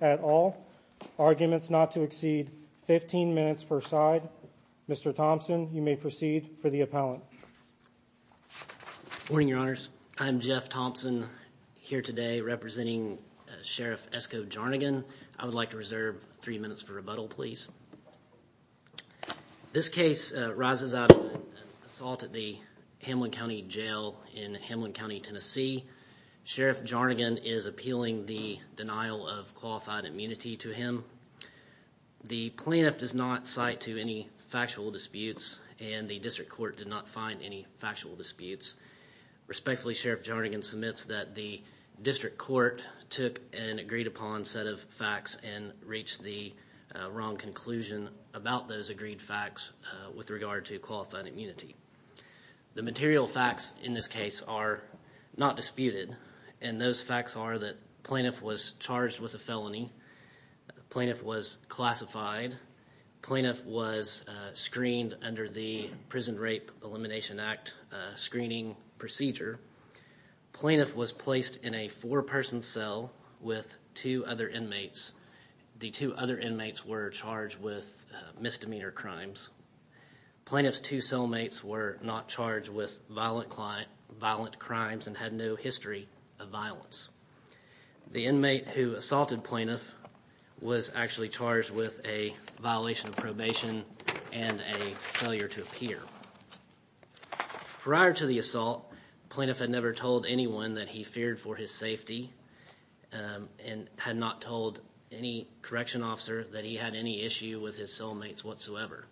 at all. Arguments not to exceed 15 minutes per side. Mr. Thompson, you may proceed for the appellant. Good morning, your honors. I'm Jeff Thompson here today representing Sheriff Esko Jarnigan. I would like to reserve three minutes for rebuttal, please. This case arises out of an assault at the Hamblen County Jail in Hamblen County Tennessee. Sheriff Jarnigan is appealing the denial of qualified immunity to him. The plaintiff does not cite to any factual disputes and the district court did not find any factual disputes. Respectfully, Sheriff Jarnigan submits that the district court took an agreed upon set of facts and reached the wrong conclusion about those agreed facts with regard to qualified immunity. The material facts in this case are not disputed and those facts are that the plaintiff was charged with a felony, the plaintiff was classified, the plaintiff was screened under the Prison Rape Elimination Act screening procedure, the plaintiff was placed in a four person cell with two other inmates. The two other inmates were charged with misdemeanor crimes. Plaintiff's two cellmates were not charged with violent crimes and had no history of violence. The inmate who assaulted plaintiff was actually charged with a violation of probation and a failure to appear. Prior to the assault, plaintiff had never told anyone that he feared for his safety and had not told any correction officer that he had any issue with his cellmates whatsoever.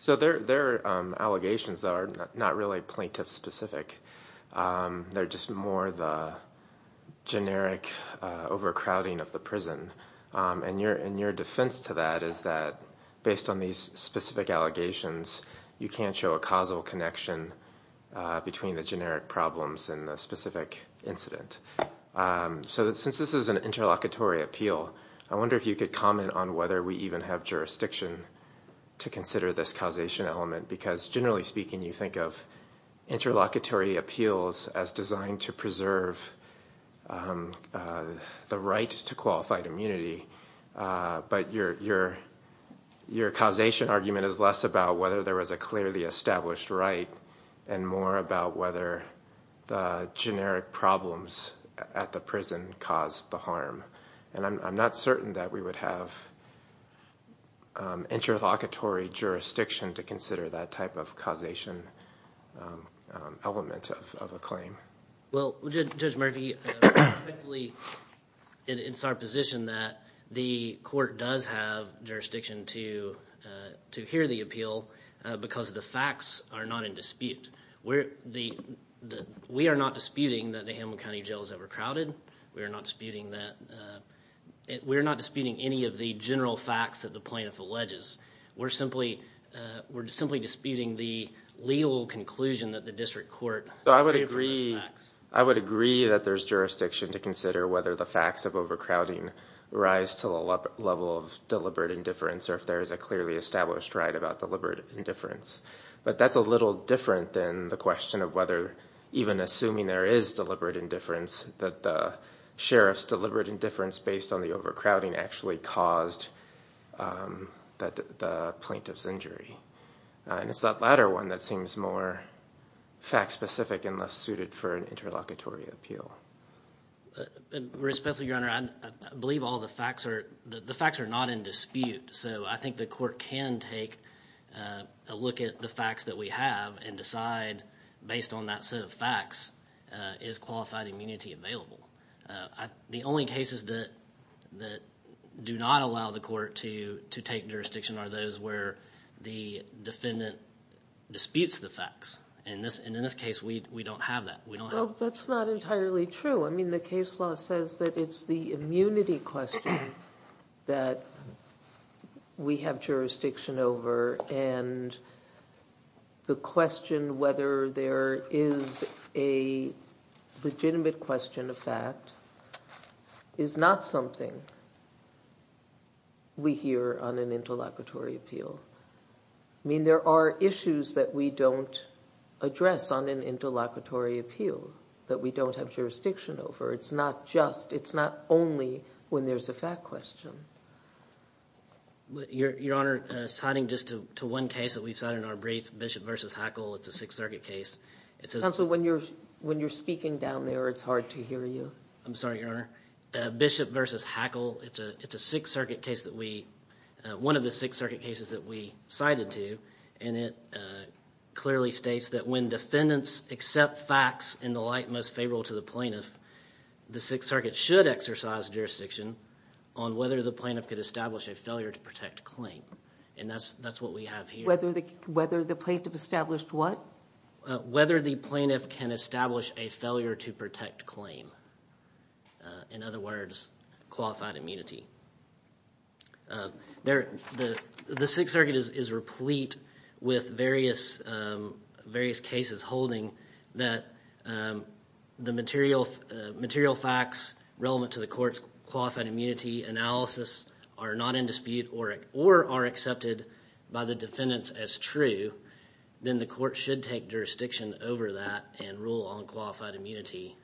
So their allegations are not really plaintiff specific, they're just more the generic overcrowding of the prison and your defense to that is that based on these specific allegations you can't show a causal connection between the generic problems and the specific incident. So since this is an interlocutory appeal, I wonder if you could comment on whether we even have jurisdiction to consider this causation element because generally speaking you think of interlocutory appeals as designed to preserve the right to qualified immunity but your causation argument is less about whether there was a clearly established right and more about whether the generic problems at the prison caused the harm and I'm not certain that we would have interlocutory jurisdiction to consider that type of causation element of a claim. Well Judge Murphy, it's our position that the court does have jurisdiction to hear the appeal because the facts are not in dispute. We are not disputing that the Hamlin County Jail is overcrowded, we are not disputing any of the general facts that the plaintiff alleges. We're simply disputing the legal conclusion that the district court gave for those facts. So I would agree that there's jurisdiction to consider whether the facts of overcrowding rise to the level of deliberate indifference or if there is a clearly established right about deliberate indifference. But that's a little different than the question of whether even assuming there is deliberate indifference that the sheriff's deliberate indifference based on the overcrowding actually caused the plaintiff's injury. And it's that latter one that seems more fact specific and less suited for an interlocutory appeal. Respectfully take a look at the facts that we have and decide based on that set of facts is qualified immunity available. The only cases that do not allow the court to take jurisdiction are those where the defendant disputes the facts. And in this case we don't have that. That's not entirely true. I mean the case law says that it's the immunity question that we have jurisdiction over and the question whether there is a legitimate question of fact is not something we hear on an interlocutory appeal. I mean there are issues that we don't address on an interlocutory appeal that we don't have jurisdiction over. It's not just, fact question. Your Honor, citing just to one case that we've cited in our brief, Bishop v. Hackle, it's a Sixth Circuit case. Counsel, when you're speaking down there it's hard to hear you. I'm sorry, Your Honor. Bishop v. Hackle, it's a Sixth Circuit case that we, one of the Sixth Circuit cases that we cited to. And it clearly states that when defendants accept facts in the light most favorable to the plaintiff, the Sixth Circuit should exercise jurisdiction on whether the plaintiff could establish a failure to protect claim. And that's what we have here. Whether the plaintiff established what? Whether the plaintiff can establish a failure to protect claim. In other words, qualified immunity. The Sixth Circuit is replete with various cases holding that the material facts relevant to the court's qualified immunity analysis are not in dispute or are accepted by the defendants as true, then the court should take jurisdiction over that and rule on qualified immunity.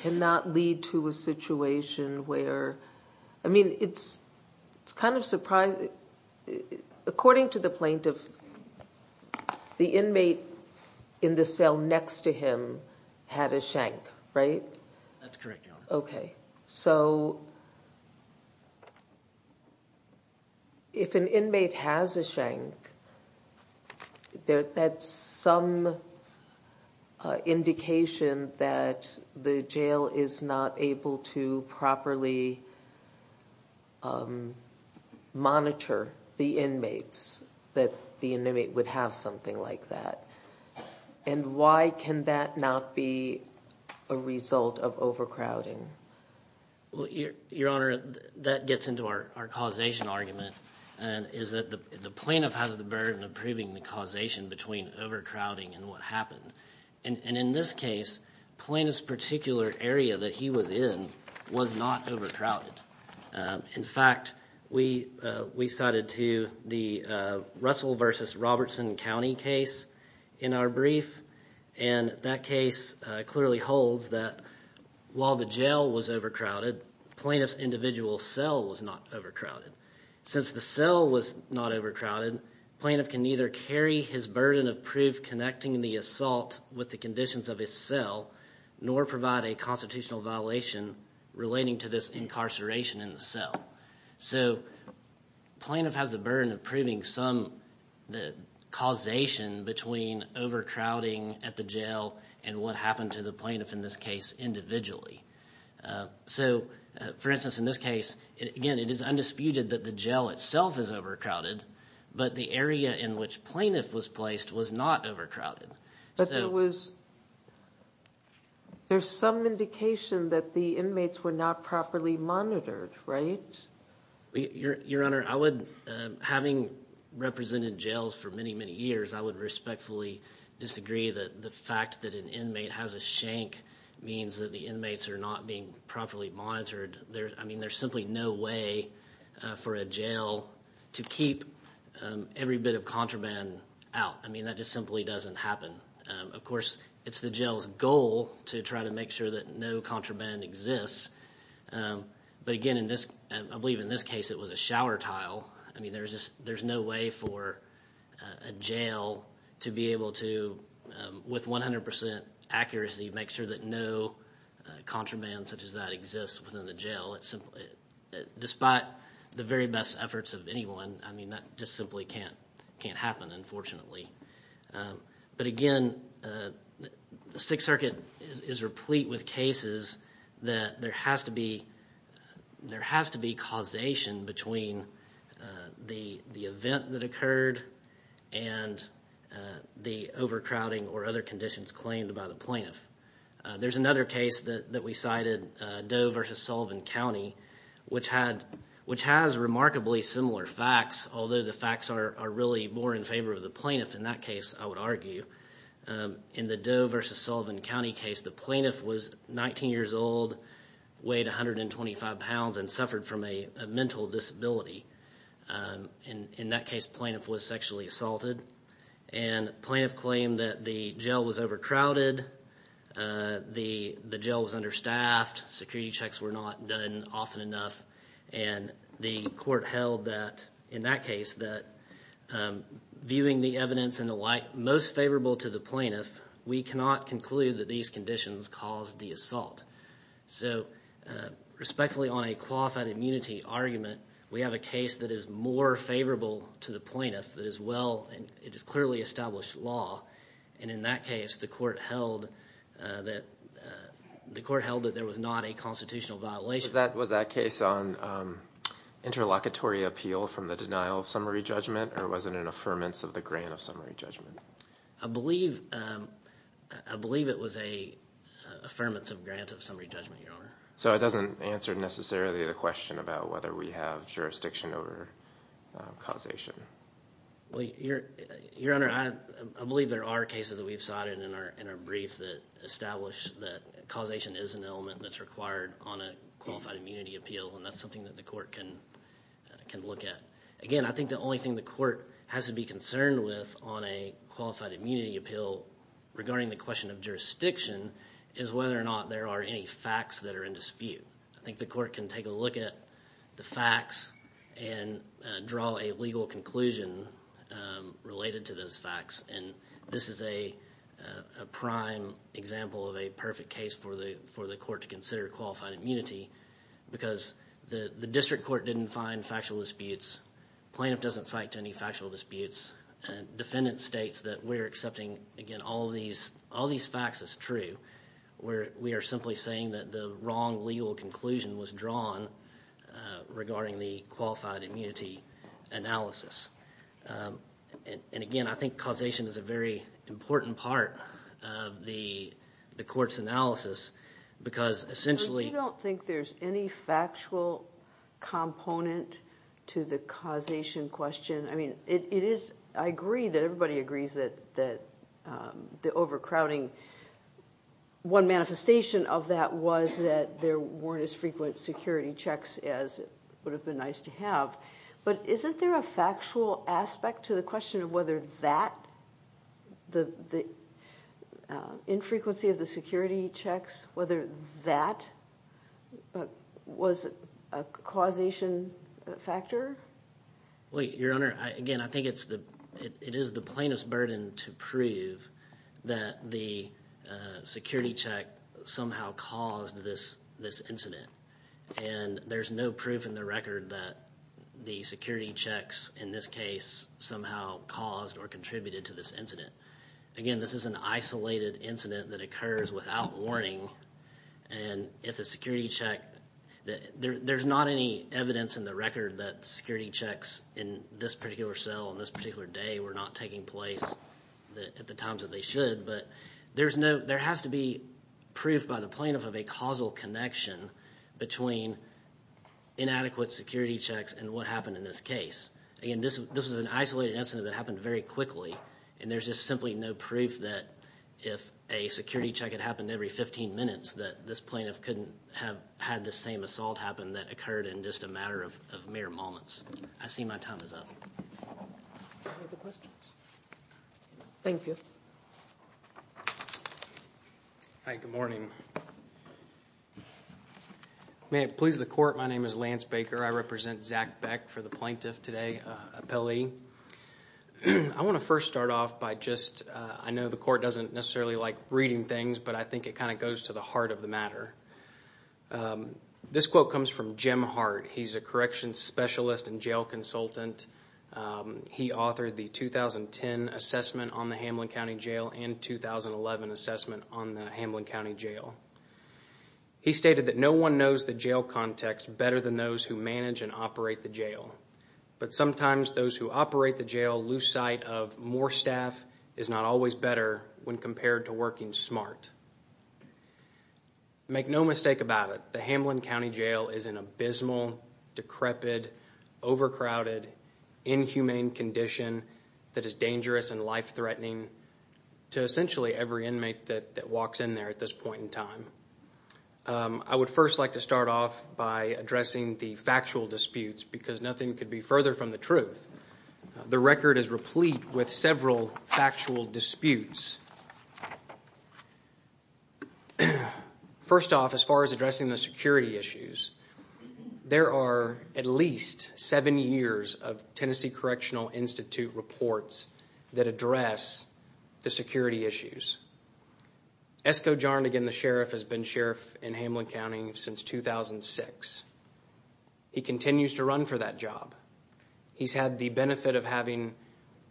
Can that lead to a situation where, I mean, it's kind of surprising. According to the plaintiff, the inmate in the cell next to him had a shank, right? That's correct, Your Honor. Okay. So, if an inmate has a shank, that's some indication that the jail is not able to properly monitor the inmates, that the inmate would have something like that. And why can that not be a result of overcrowding? Your Honor, that gets into our causation argument. The plaintiff has the burden of proving the causation between overcrowding and what happened. And in this case, the plaintiff's particular area that he was in was not overcrowded. In fact, we cited to the Russell v. Robertson County case in our brief, and that case clearly holds that while the jail was overcrowded, the plaintiff's individual cell was not overcrowded. Since the cell was not overcrowded, the plaintiff can neither carry his burden of proof connecting the assault with the conditions of his cell nor provide a constitutional violation relating to this incarceration in the cell. So, the causation between overcrowding at the jail and what happened to the plaintiff in this case individually. So, for instance, in this case, again, it is undisputed that the jail itself is overcrowded, but the area in which plaintiff was placed was not overcrowded. But there was – there's some indication that the inmates were not properly monitored, right? Your Honor, I would – having represented jails for many, many years, I would respectfully disagree that the fact that an inmate has a shank means that the inmates are not being properly monitored. I mean, there's simply no way for a jail to keep every bit of contraband out. I mean, that just simply doesn't happen. Of course, it's the jail's goal to try to make sure that no contraband exists. But again, in this – I believe in this case, it was a shower tile. I mean, there's just – there's no way for a jail to be able to, with 100 percent accuracy, make sure that no contraband such as that exists within the jail. Despite the very best efforts of anyone, I mean, that just simply can't happen, unfortunately. But again, the Sixth Circuit is replete with cases that there has to be – there has to be causation between the event that occurred and the overcrowding or other conditions claimed by the plaintiff. There's another case that we cited, Doe v. Sullivan County, which had – which has remarkably similar facts, although the facts are really more in favor of the plaintiff in that case, I would argue. In the Doe v. Sullivan County case, the plaintiff was 19 years old, weighed 125 pounds, and suffered from a mental disability. In that case, the plaintiff was sexually assaulted. And the plaintiff claimed that the jail was overcrowded, the jail was understaffed, security checks were not done often enough, and the evidence and the like most favorable to the plaintiff, we cannot conclude that these conditions caused the assault. So, respectfully, on a qualified immunity argument, we have a case that is more favorable to the plaintiff, that is well – it is clearly established law, and in that case, the court held that – the court held that there was not a constitutional violation. Was that case on interlocutory appeal from the denial of summary judgment, or was it an affirmance of the grant of summary judgment? I believe – I believe it was an affirmance of grant of summary judgment, Your Honor. So it doesn't answer necessarily the question about whether we have jurisdiction over causation? Well, Your Honor, I believe there are cases that we've cited in our brief that establish that causation is an element that's required on a qualified immunity appeal, and that's something that the court can look at. Again, I think the only thing the court has to be concerned with on a qualified immunity appeal regarding the question of jurisdiction is whether or not there are any facts that are in dispute. I think the court can take a look at the facts and draw a legal conclusion related to those facts, and this is a prime example of a perfect case for the court to consider qualified immunity, because the district court didn't find factual disputes, plaintiff doesn't cite to any factual disputes, defendant states that we're accepting, again, all these facts as true, where we are simply saying that the wrong legal conclusion was drawn regarding the qualified immunity analysis. And again, I think causation is a very important part of the court's analysis, because essentially... But you don't think there's any factual component to the causation question? I mean, it is, I agree that everybody agrees that the overcrowding, one manifestation of that was that there weren't as frequent security checks as would have been nice to have, but isn't there a factual aspect to the question of whether that, the infrequency of the security checks, whether that was a causation factor? Your Honor, again, I think it is the plaintiff's burden to prove that the security check somehow caused this incident, and there's no proof in the record that the security checks in this case somehow caused or contributed to this incident. Again, this is an isolated incident that occurs without warning, and if a security check... There's not any evidence in the record that security checks in this particular cell on this particular day were not taking place at the times that they should, but there has to be proof by the plaintiff of a causal connection between inadequate security checks and what happened in this case. Again, this was an isolated incident that happened very quickly, and there's just simply no proof that if a security check had happened every 15 minutes, that this plaintiff couldn't have had the same assault happen that occurred in just a matter of mere moments. I see my time is up. Any other questions? Thank you. Hi, good morning. May it please the Court, my name is Lance Baker. I represent Zach Beck for the Plaintiff Today appellee. I want to first start off by just... I know the Court doesn't necessarily like reading things, but I think it kind of goes to the heart of the case. Zach Beck is a jail consultant. He authored the 2010 assessment on the Hamlin County Jail and the 2011 assessment on the Hamlin County Jail. He stated that no one knows the jail context better than those who manage and operate the jail, but sometimes those who operate the jail lose sight of more staff is not always better when compared to working smart. Make no mistake about it, the Hamlin County Jail is an abysmal, decrepit, overcrowded, inhumane condition that is dangerous and life-threatening to essentially every inmate that walks in there at this point in time. I would first like to start off by addressing the factual disputes because nothing could be further from the truth. The record is replete with several factual disputes. First off, as far as addressing the security issues, there are at least seven years of Tennessee Correctional Institute reports that address the security issues. Esko Jarnagin, the sheriff, has been sheriff in Hamlin County since 2006. He continues to run for that job. He's had the benefit of having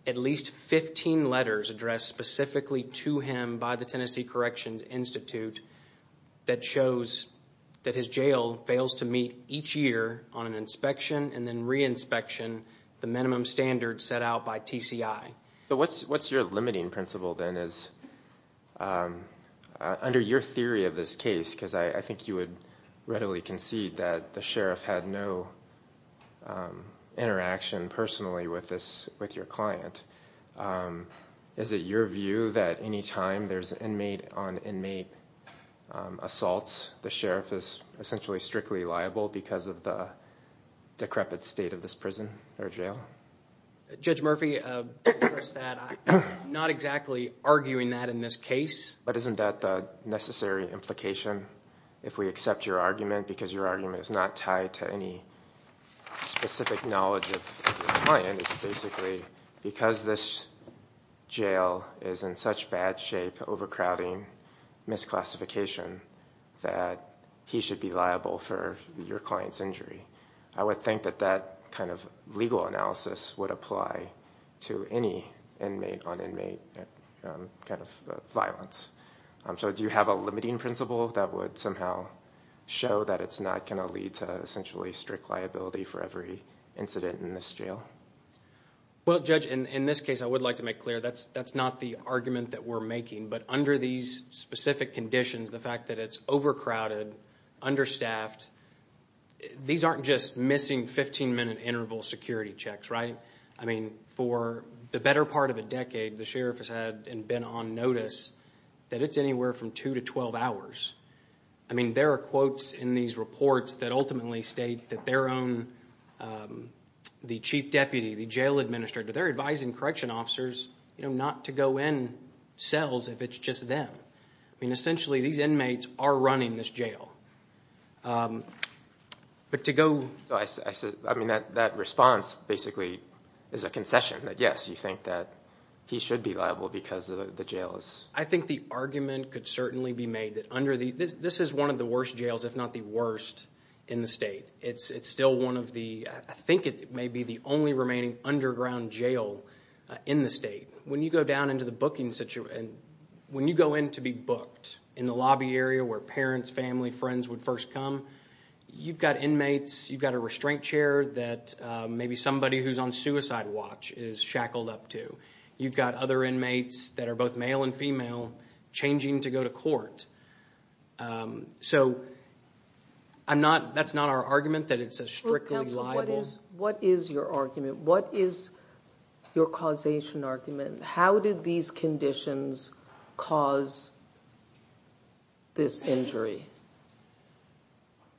at least 15 letters addressed specifically to him by the Tennessee Corrections Institute that shows that his calls to meet each year on an inspection and then re-inspection, the minimum standard set out by TCI. So what's your limiting principle then? Under your theory of this case, because I think you would readily concede that the sheriff had no interaction personally with your client, is it your view that any time there's an inmate on inmate assaults, the sheriff is essentially strictly liable because of the decrepit state of this prison or jail? Judge Murphy, not exactly arguing that in this case. But isn't that the necessary implication? If we accept your argument because your argument is not tied to any specific knowledge of your client, it's basically because this jail is in such bad shape, overcrowding, misclassification, that he should be liable for your client's injury. I would think that that kind of legal analysis would apply to any inmate on inmate kind of violence. So do you have a limiting principle that would somehow show that it's not going to lead to essentially strict liability for every incident in this jail? Well, Judge, in this case I would like to make clear that's not the argument that we're making. But under these specific conditions, the fact that it's overcrowded, understaffed, these aren't just missing 15-minute interval security checks, right? I mean, for the better part of a decade, the sheriff has had and been on notice that it's anywhere from two to twelve hours. I mean, there are quotes in these reports that ultimately state that their own, the chief deputy, the jail administrator, they're advising correction officers not to go in cells if it's just them. I mean, essentially these inmates are running this jail. But to go... I mean, that response basically is a concession, that yes, you think that he should be liable because the jail is... I think the argument could certainly be made that under the... This is one of the worst in the state. It's still one of the... I think it may be the only remaining underground jail in the state. When you go down into the booking situation, when you go in to be booked in the lobby area where parents, family, friends would first come, you've got inmates, you've got a restraint chair that maybe somebody who's on suicide watch is shackled up to. You've got other inmates that are both male and female changing to go to court. So I think that's not our argument that it's a strictly liable... What is your argument? What is your causation argument? How did these conditions cause this injury?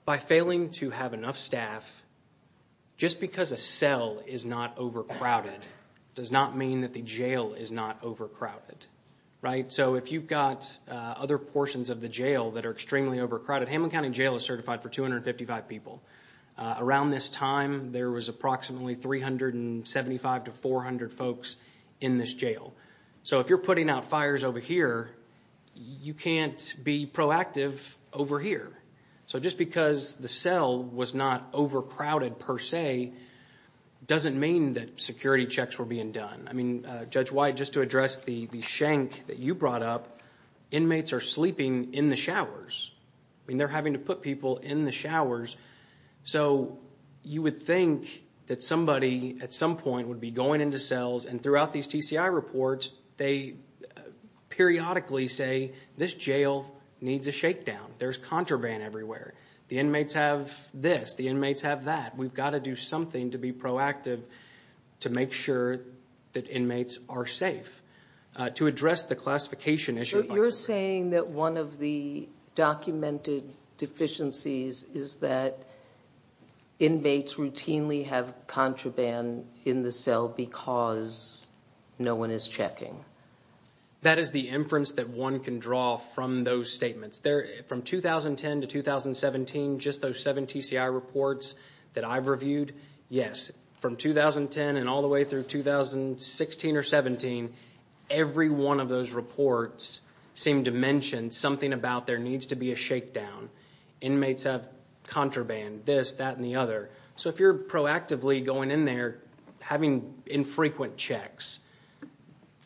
By failing to have enough staff, just because a cell is not overcrowded does not mean that the jail is not overcrowded, right? So if you've got other portions of the jail that are extremely overcrowded... Hamlin County Jail is certified for 255 people. Around this time there was approximately 375 to 400 folks in this jail. So if you're putting out fires over here, you can't be proactive over here. So just because the cell was not overcrowded per se doesn't mean that security checks were being done. I mean, Judge White, just to address the shank that you brought up, inmates are sleeping in the showers. I mean, they're having to put people in the showers. So you would think that somebody at some point would be going into cells and throughout these TCI reports they periodically say, this jail needs a shakedown. There's contraband everywhere. The inmates have this. The inmates have that. We've got to do something to be proactive to make sure that inmates are safe. To address the classification issue... So you're saying that one of the documented deficiencies is that inmates routinely have contraband in the cell because no one is checking? That is the inference that one can draw from those statements. From 2010 to 2017, just those seven TCI reports that I've reviewed, yes. From 2010 and all the way through 2016 or 2017, every one of those reports seemed to mention something about there needs to be a shakedown. Inmates have contraband, this, that, and the other. So if you're proactively going in there having infrequent checks,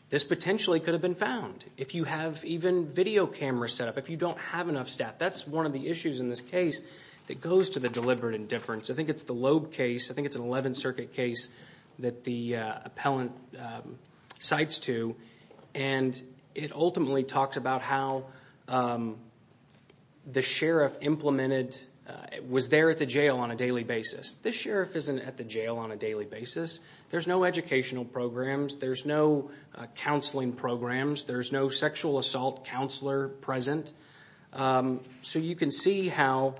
this potentially could have been found. If you have even video cameras set up, if you don't have enough staff, that's one of the issues in this case that goes to the deliberate indifference. I think it's the Loeb case. I think it's an 11th Circuit case that the appellant cites to. It ultimately talks about how the sheriff implemented... was there at the jail on a daily basis. This sheriff isn't at the jail on a daily basis. There's no educational programs. There's no counseling programs. There's no sexual assault counselor present. So you can see how,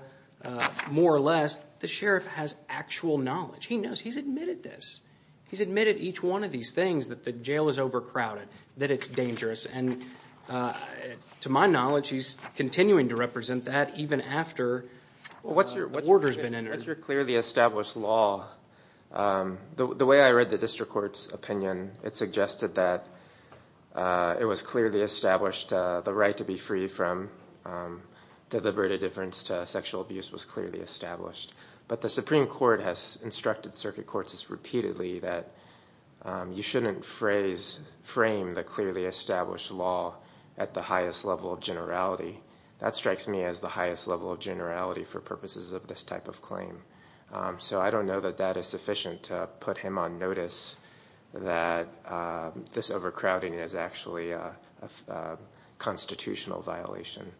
more or less, the sheriff has actual knowledge. He knows. He's admitted this. He's admitted each one of these things, that the jail is overcrowded, that it's dangerous. To my knowledge, he's continuing to represent that even after the order's been entered. What's your clearly established law? The way I read the district court's opinion, it suggested that it was clearly established the right to be free from deliberate indifference to instructed circuit courts repeatedly that you shouldn't frame the clearly established law at the highest level of generality. That strikes me as the highest level of generality for purposes of this type of claim. So I don't know that that is sufficient to put him on notice that this overcrowding is actually a constitutional violation.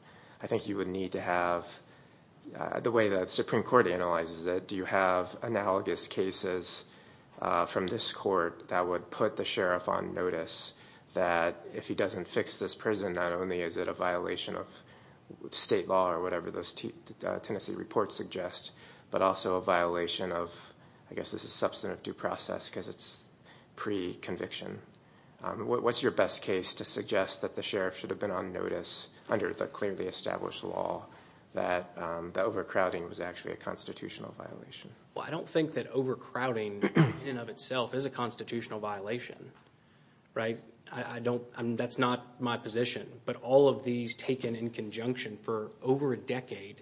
I think you would argue that there are a lot of cases from this court that would put the sheriff on notice that if he doesn't fix this prison, not only is it a violation of state law or whatever those Tennessee reports suggest, but also a violation of, I guess this is substantive due process because it's pre-conviction. What's your best case to suggest that the sheriff should have been on notice under the clearly established law that the overcrowding was actually a constitutional violation? Well, I don't think that overcrowding in and of itself is a constitutional violation. That's not my position, but all of these taken in conjunction for over a decade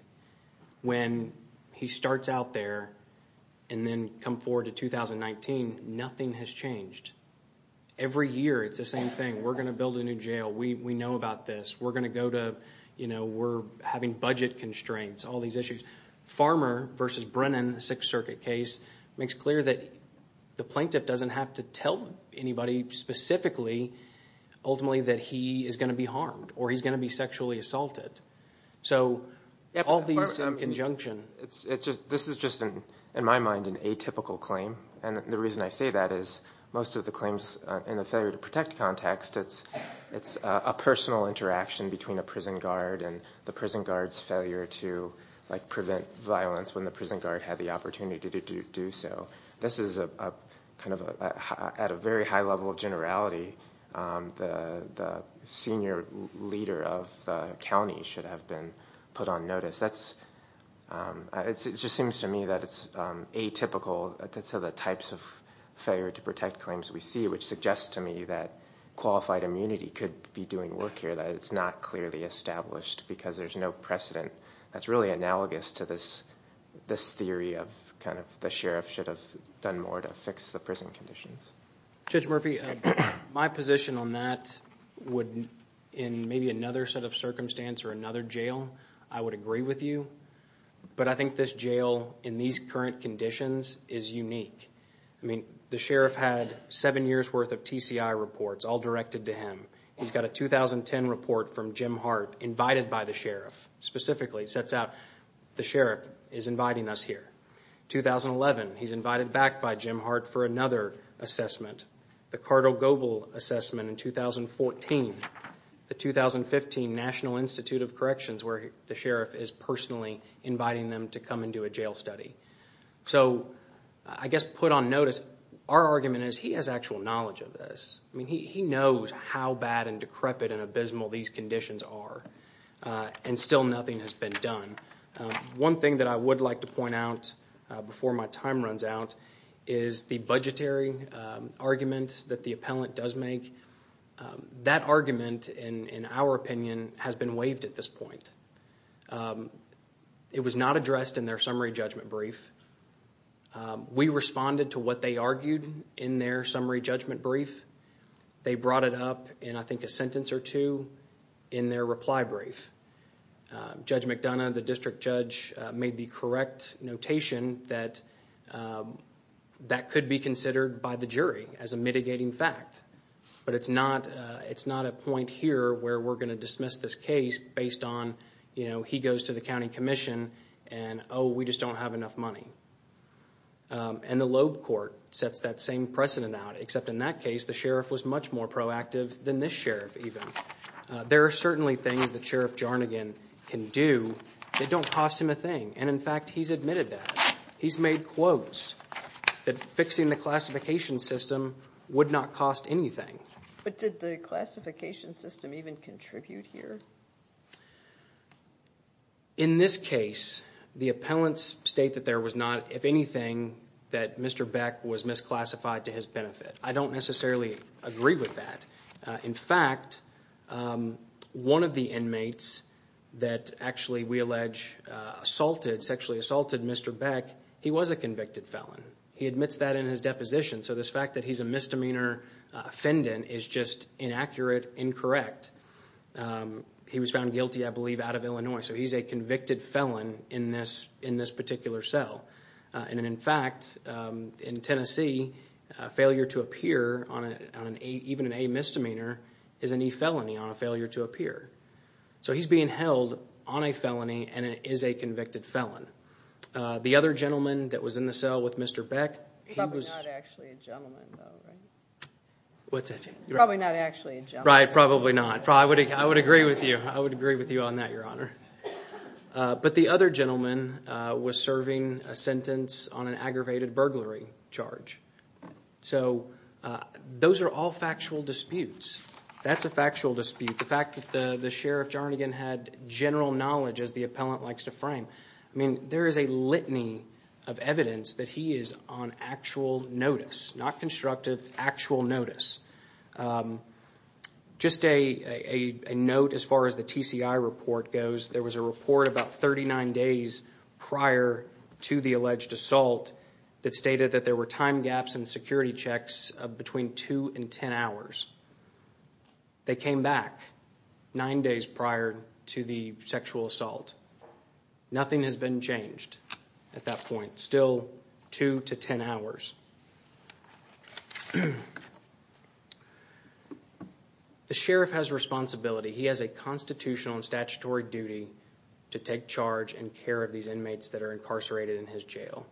when he starts out there and then come forward to 2019, nothing has changed. Every year it's the same thing. We're going to build a new jail. We know about this. We're going to go to, you know, we're versus Brennan Sixth Circuit case makes clear that the plaintiff doesn't have to tell anybody specifically ultimately that he is going to be harmed or he's going to be sexually assaulted. So all these in conjunction. This is just, in my mind, an atypical claim. And the reason I say that is most of the claims in the failure to protect context, it's a personal interaction between a prison guard and the prison guard's failure to prevent violence when the prison guard had the opportunity to do so. This is a kind of a, at a very high level of generality, the senior leader of the county should have been put on notice. That's, it just seems to me that it's atypical to the types of failure to protect claims we see, which suggests to me that qualified immunity could be doing work here, that it's not clearly established because there's no precedent. That's really analogous to this, this theory of kind of the sheriff should have done more to fix the prison conditions. Judge Murphy, my position on that would, in maybe another set of circumstance or another jail, I would agree with you. But I think this jail, in these current conditions, is him. He's got a 2010 report from Jim Hart invited by the sheriff. Specifically, it sets out the sheriff is inviting us here. 2011, he's invited back by Jim Hart for another assessment. The Cardo-Gobel assessment in 2014. The 2015 National Institute of Corrections where the sheriff is personally inviting them to come and do a jail study. So I guess put on notice, our argument is he has actual knowledge of this. I mean, he knows how bad and decrepit and abysmal these conditions are. And still nothing has been done. One thing that I would like to point out before my time runs out is the budgetary argument that the appellant does make. That argument, in our opinion, has been waived at this point. It was not addressed in their summary judgment brief. We responded to what they argued in their summary judgment brief. They brought it up in, I think, a sentence or two in their reply brief. Judge McDonough, the district judge, made the correct notation that that could be considered by the jury as a mitigating fact. But it's not a point here where we're going to dismiss this case based on, you know, he goes to the county commission and, oh, we just don't have enough money. And the Loeb court sets that same precedent out, except in that case, the sheriff was much more proactive than this sheriff even. There are certainly things that Sheriff Jarnagan can do that don't cost him a thing. And in fact, he's admitted that. He's made quotes that fixing the classification system would not cost anything. But did the classification system even contribute here? No. In this case, the appellants state that there was not, if anything, that Mr. Beck was misclassified to his benefit. I don't necessarily agree with that. In fact, one of the inmates that actually, we allege, assaulted, sexually assaulted Mr. Beck, he was a convicted felon. He admits that in his deposition. So this fact that he's a misdemeanor offendant is just inaccurate, incorrect. He was found guilty, I believe, out of Illinois. So he's a convicted felon in this particular cell. And in fact, in Tennessee, a failure to appear on an A, even an A misdemeanor, is an E felony on a failure to appear. So he's being held on a felony and is a convicted felon. The other gentleman that was in the cell with Mr. Beck, he was... Probably not actually a gentleman. Right, probably not. I would agree with you. I would agree with you on that, Your Honor. But the other gentleman was serving a sentence on an aggravated burglary charge. So those are all factual disputes. That's a factual dispute. The fact that the sheriff, Jarnigan, had general knowledge, as the appellant likes to frame. I mean, there is a litany of evidence that he is on actual notice. Not constructive, actual notice. Just a note as far as the TCI report goes. There was a report about 39 days prior to the alleged assault that stated that there were time gaps in security checks between 2 and 10 hours. They came back 9 days prior to the sexual assault. Nothing has been changed at that point. Still 2 to 10 hours. The sheriff has responsibility. He has a constitutional and statutory duty to take charge and care of these inmates that are incarcerated in his jail.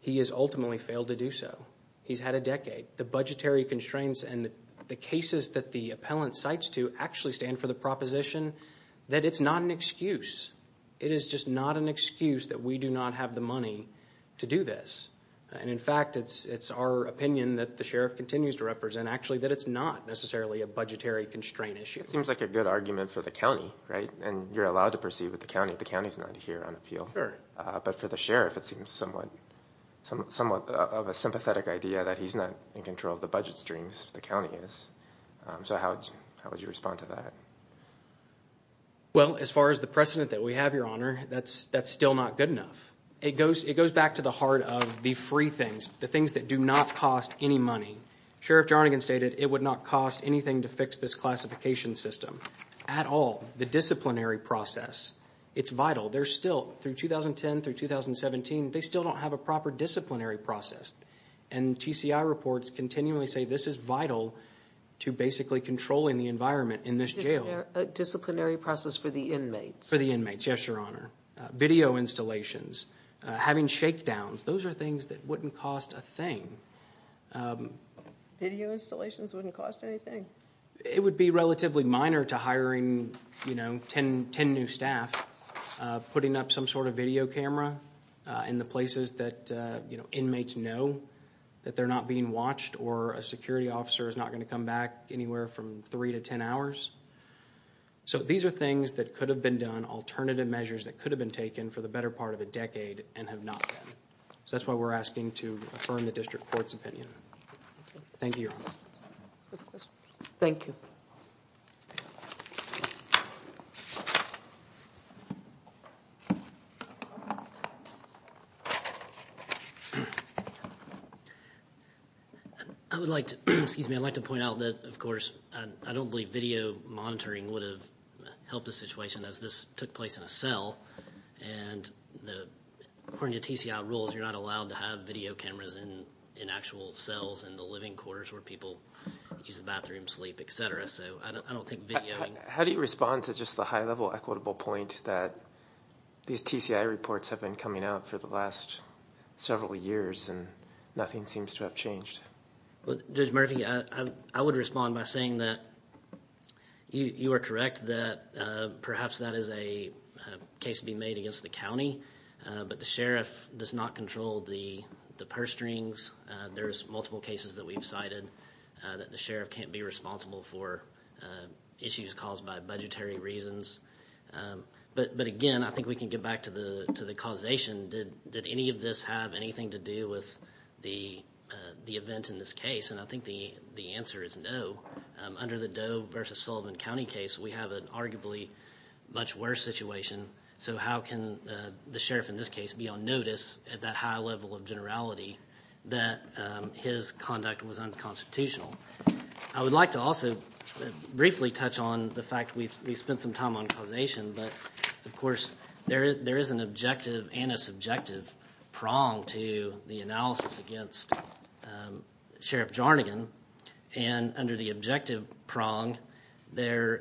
He has ultimately failed to do so. He's had a decade. The budgetary constraints and the cases that the appellant cites to actually stand for the proposition that it's not an excuse. It is just not an excuse that we do not have the money to do this. And in fact, it's our opinion that the sheriff continues to represent, actually, that it's not necessarily a budgetary constraint issue. It seems like a good argument for the county, right? And you're allowed to proceed with the county if the county's not here on appeal. But for the sheriff, it seems somewhat of a sympathetic idea that he's not in control of the budget streams if the county is. So how would you respond to that? Well, as far as the precedent that we have, your honor, that's still not good enough. It goes back to the heart of the free things, the things that do not cost any money. Sheriff Jarnagan stated it would not cost anything to fix this classification system at all. The disciplinary process, it's vital. They're still, through 2010 through 2017, they still don't have a proper disciplinary process. And TCI reports continually say this is vital to basically controlling the environment in this jail. A disciplinary process for the inmates? For the inmates, yes, your honor. Video installations, having shakedowns, those are things that wouldn't cost a thing. Video installations wouldn't cost anything? It would be relatively minor to hiring, you know, ten new staff, putting up some sort of video camera in the places that, you know, inmates know that they're not being watched or a security officer is not going to come back anywhere from three to ten hours. So these are things that could have been done, alternative measures that could have been taken for the better part of a decade and have not been. So that's why we're asking to affirm the district court's opinion. Thank you, your honor. Thank you. I would like to, excuse me, I'd like to point out that, of course, I don't believe video monitoring would have helped the situation as this took place in a cell. And according to TCI rules, you're not allowed to have video cameras in actual cells in the living quarters where people use the bathroom, sleep, etc. So I don't think videoing... How do you respond to just the high-level equitable point that these TCI reports have been coming out for the last several years and nothing seems to have changed? Judge Murphy, I would respond by saying that you are correct that perhaps that is a case to be made against the county, but the sheriff does not control the purse strings. There's no question that the sheriff can't be responsible for issues caused by budgetary reasons. But again, I think we can get back to the causation. Did any of this have anything to do with the event in this case? And I think the answer is no. Under the Doe versus Sullivan County case, we have an arguably much worse situation. So how can the sheriff in this case be on I would like to also briefly touch on the fact that we've spent some time on causation, but of course there is an objective and a subjective prong to the analysis against Sheriff Jarnagan. And under the objective prong, the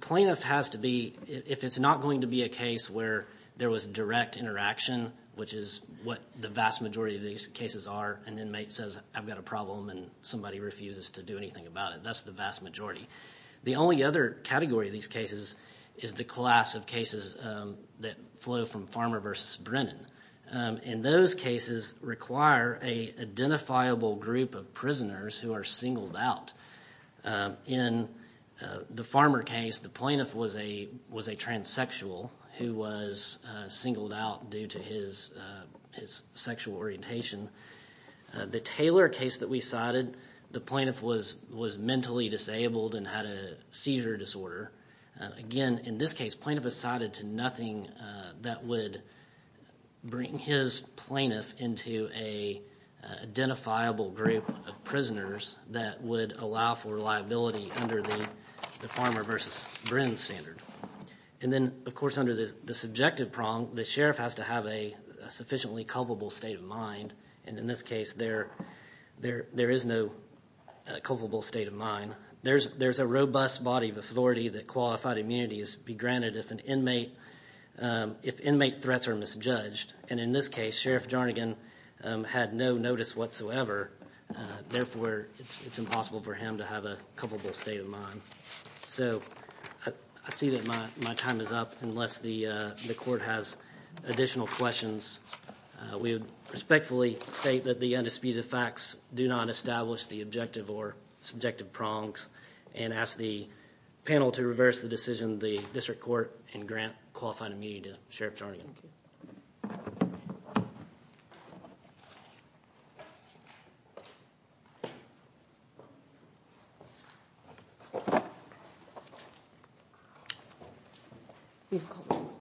plaintiff has to be... If it's not going to be a case where there was direct interaction, which is what the vast majority of these cases are, an inmate says, I've got a problem and somebody refuses to do anything about it. That's the vast majority. The only other category of these cases is the class of cases that flow from Farmer versus Brennan. And those cases require an identifiable group of prisoners who are singled out. In the Farmer case, the plaintiff was a transsexual who was singled out due to his sexual orientation. The Taylor case that we cited, the plaintiff was mentally disabled and had a seizure disorder. Again, in this case, plaintiff was cited to nothing that would bring his plaintiff into an identifiable group of prisoners that would allow for liability under the Farmer versus Brennan standard. And then, of course, under the subjective prong, the sheriff has to have a sufficiently culpable state of mind. And in this case, there is no culpable state of mind. There's a robust body of authority that qualified immunity is granted if inmate threats are misjudged. And in this case, Sheriff Jarnagan had no notice whatsoever. Therefore, it's impossible for him to have a culpable state of mind. So I see that my time is up. Unless the court has additional questions, we would respectfully state that the undisputed facts do not establish the objective or subjective prongs and ask the panel to reverse the decision in the district court and grant qualified immunity to Sheriff Jarnagan.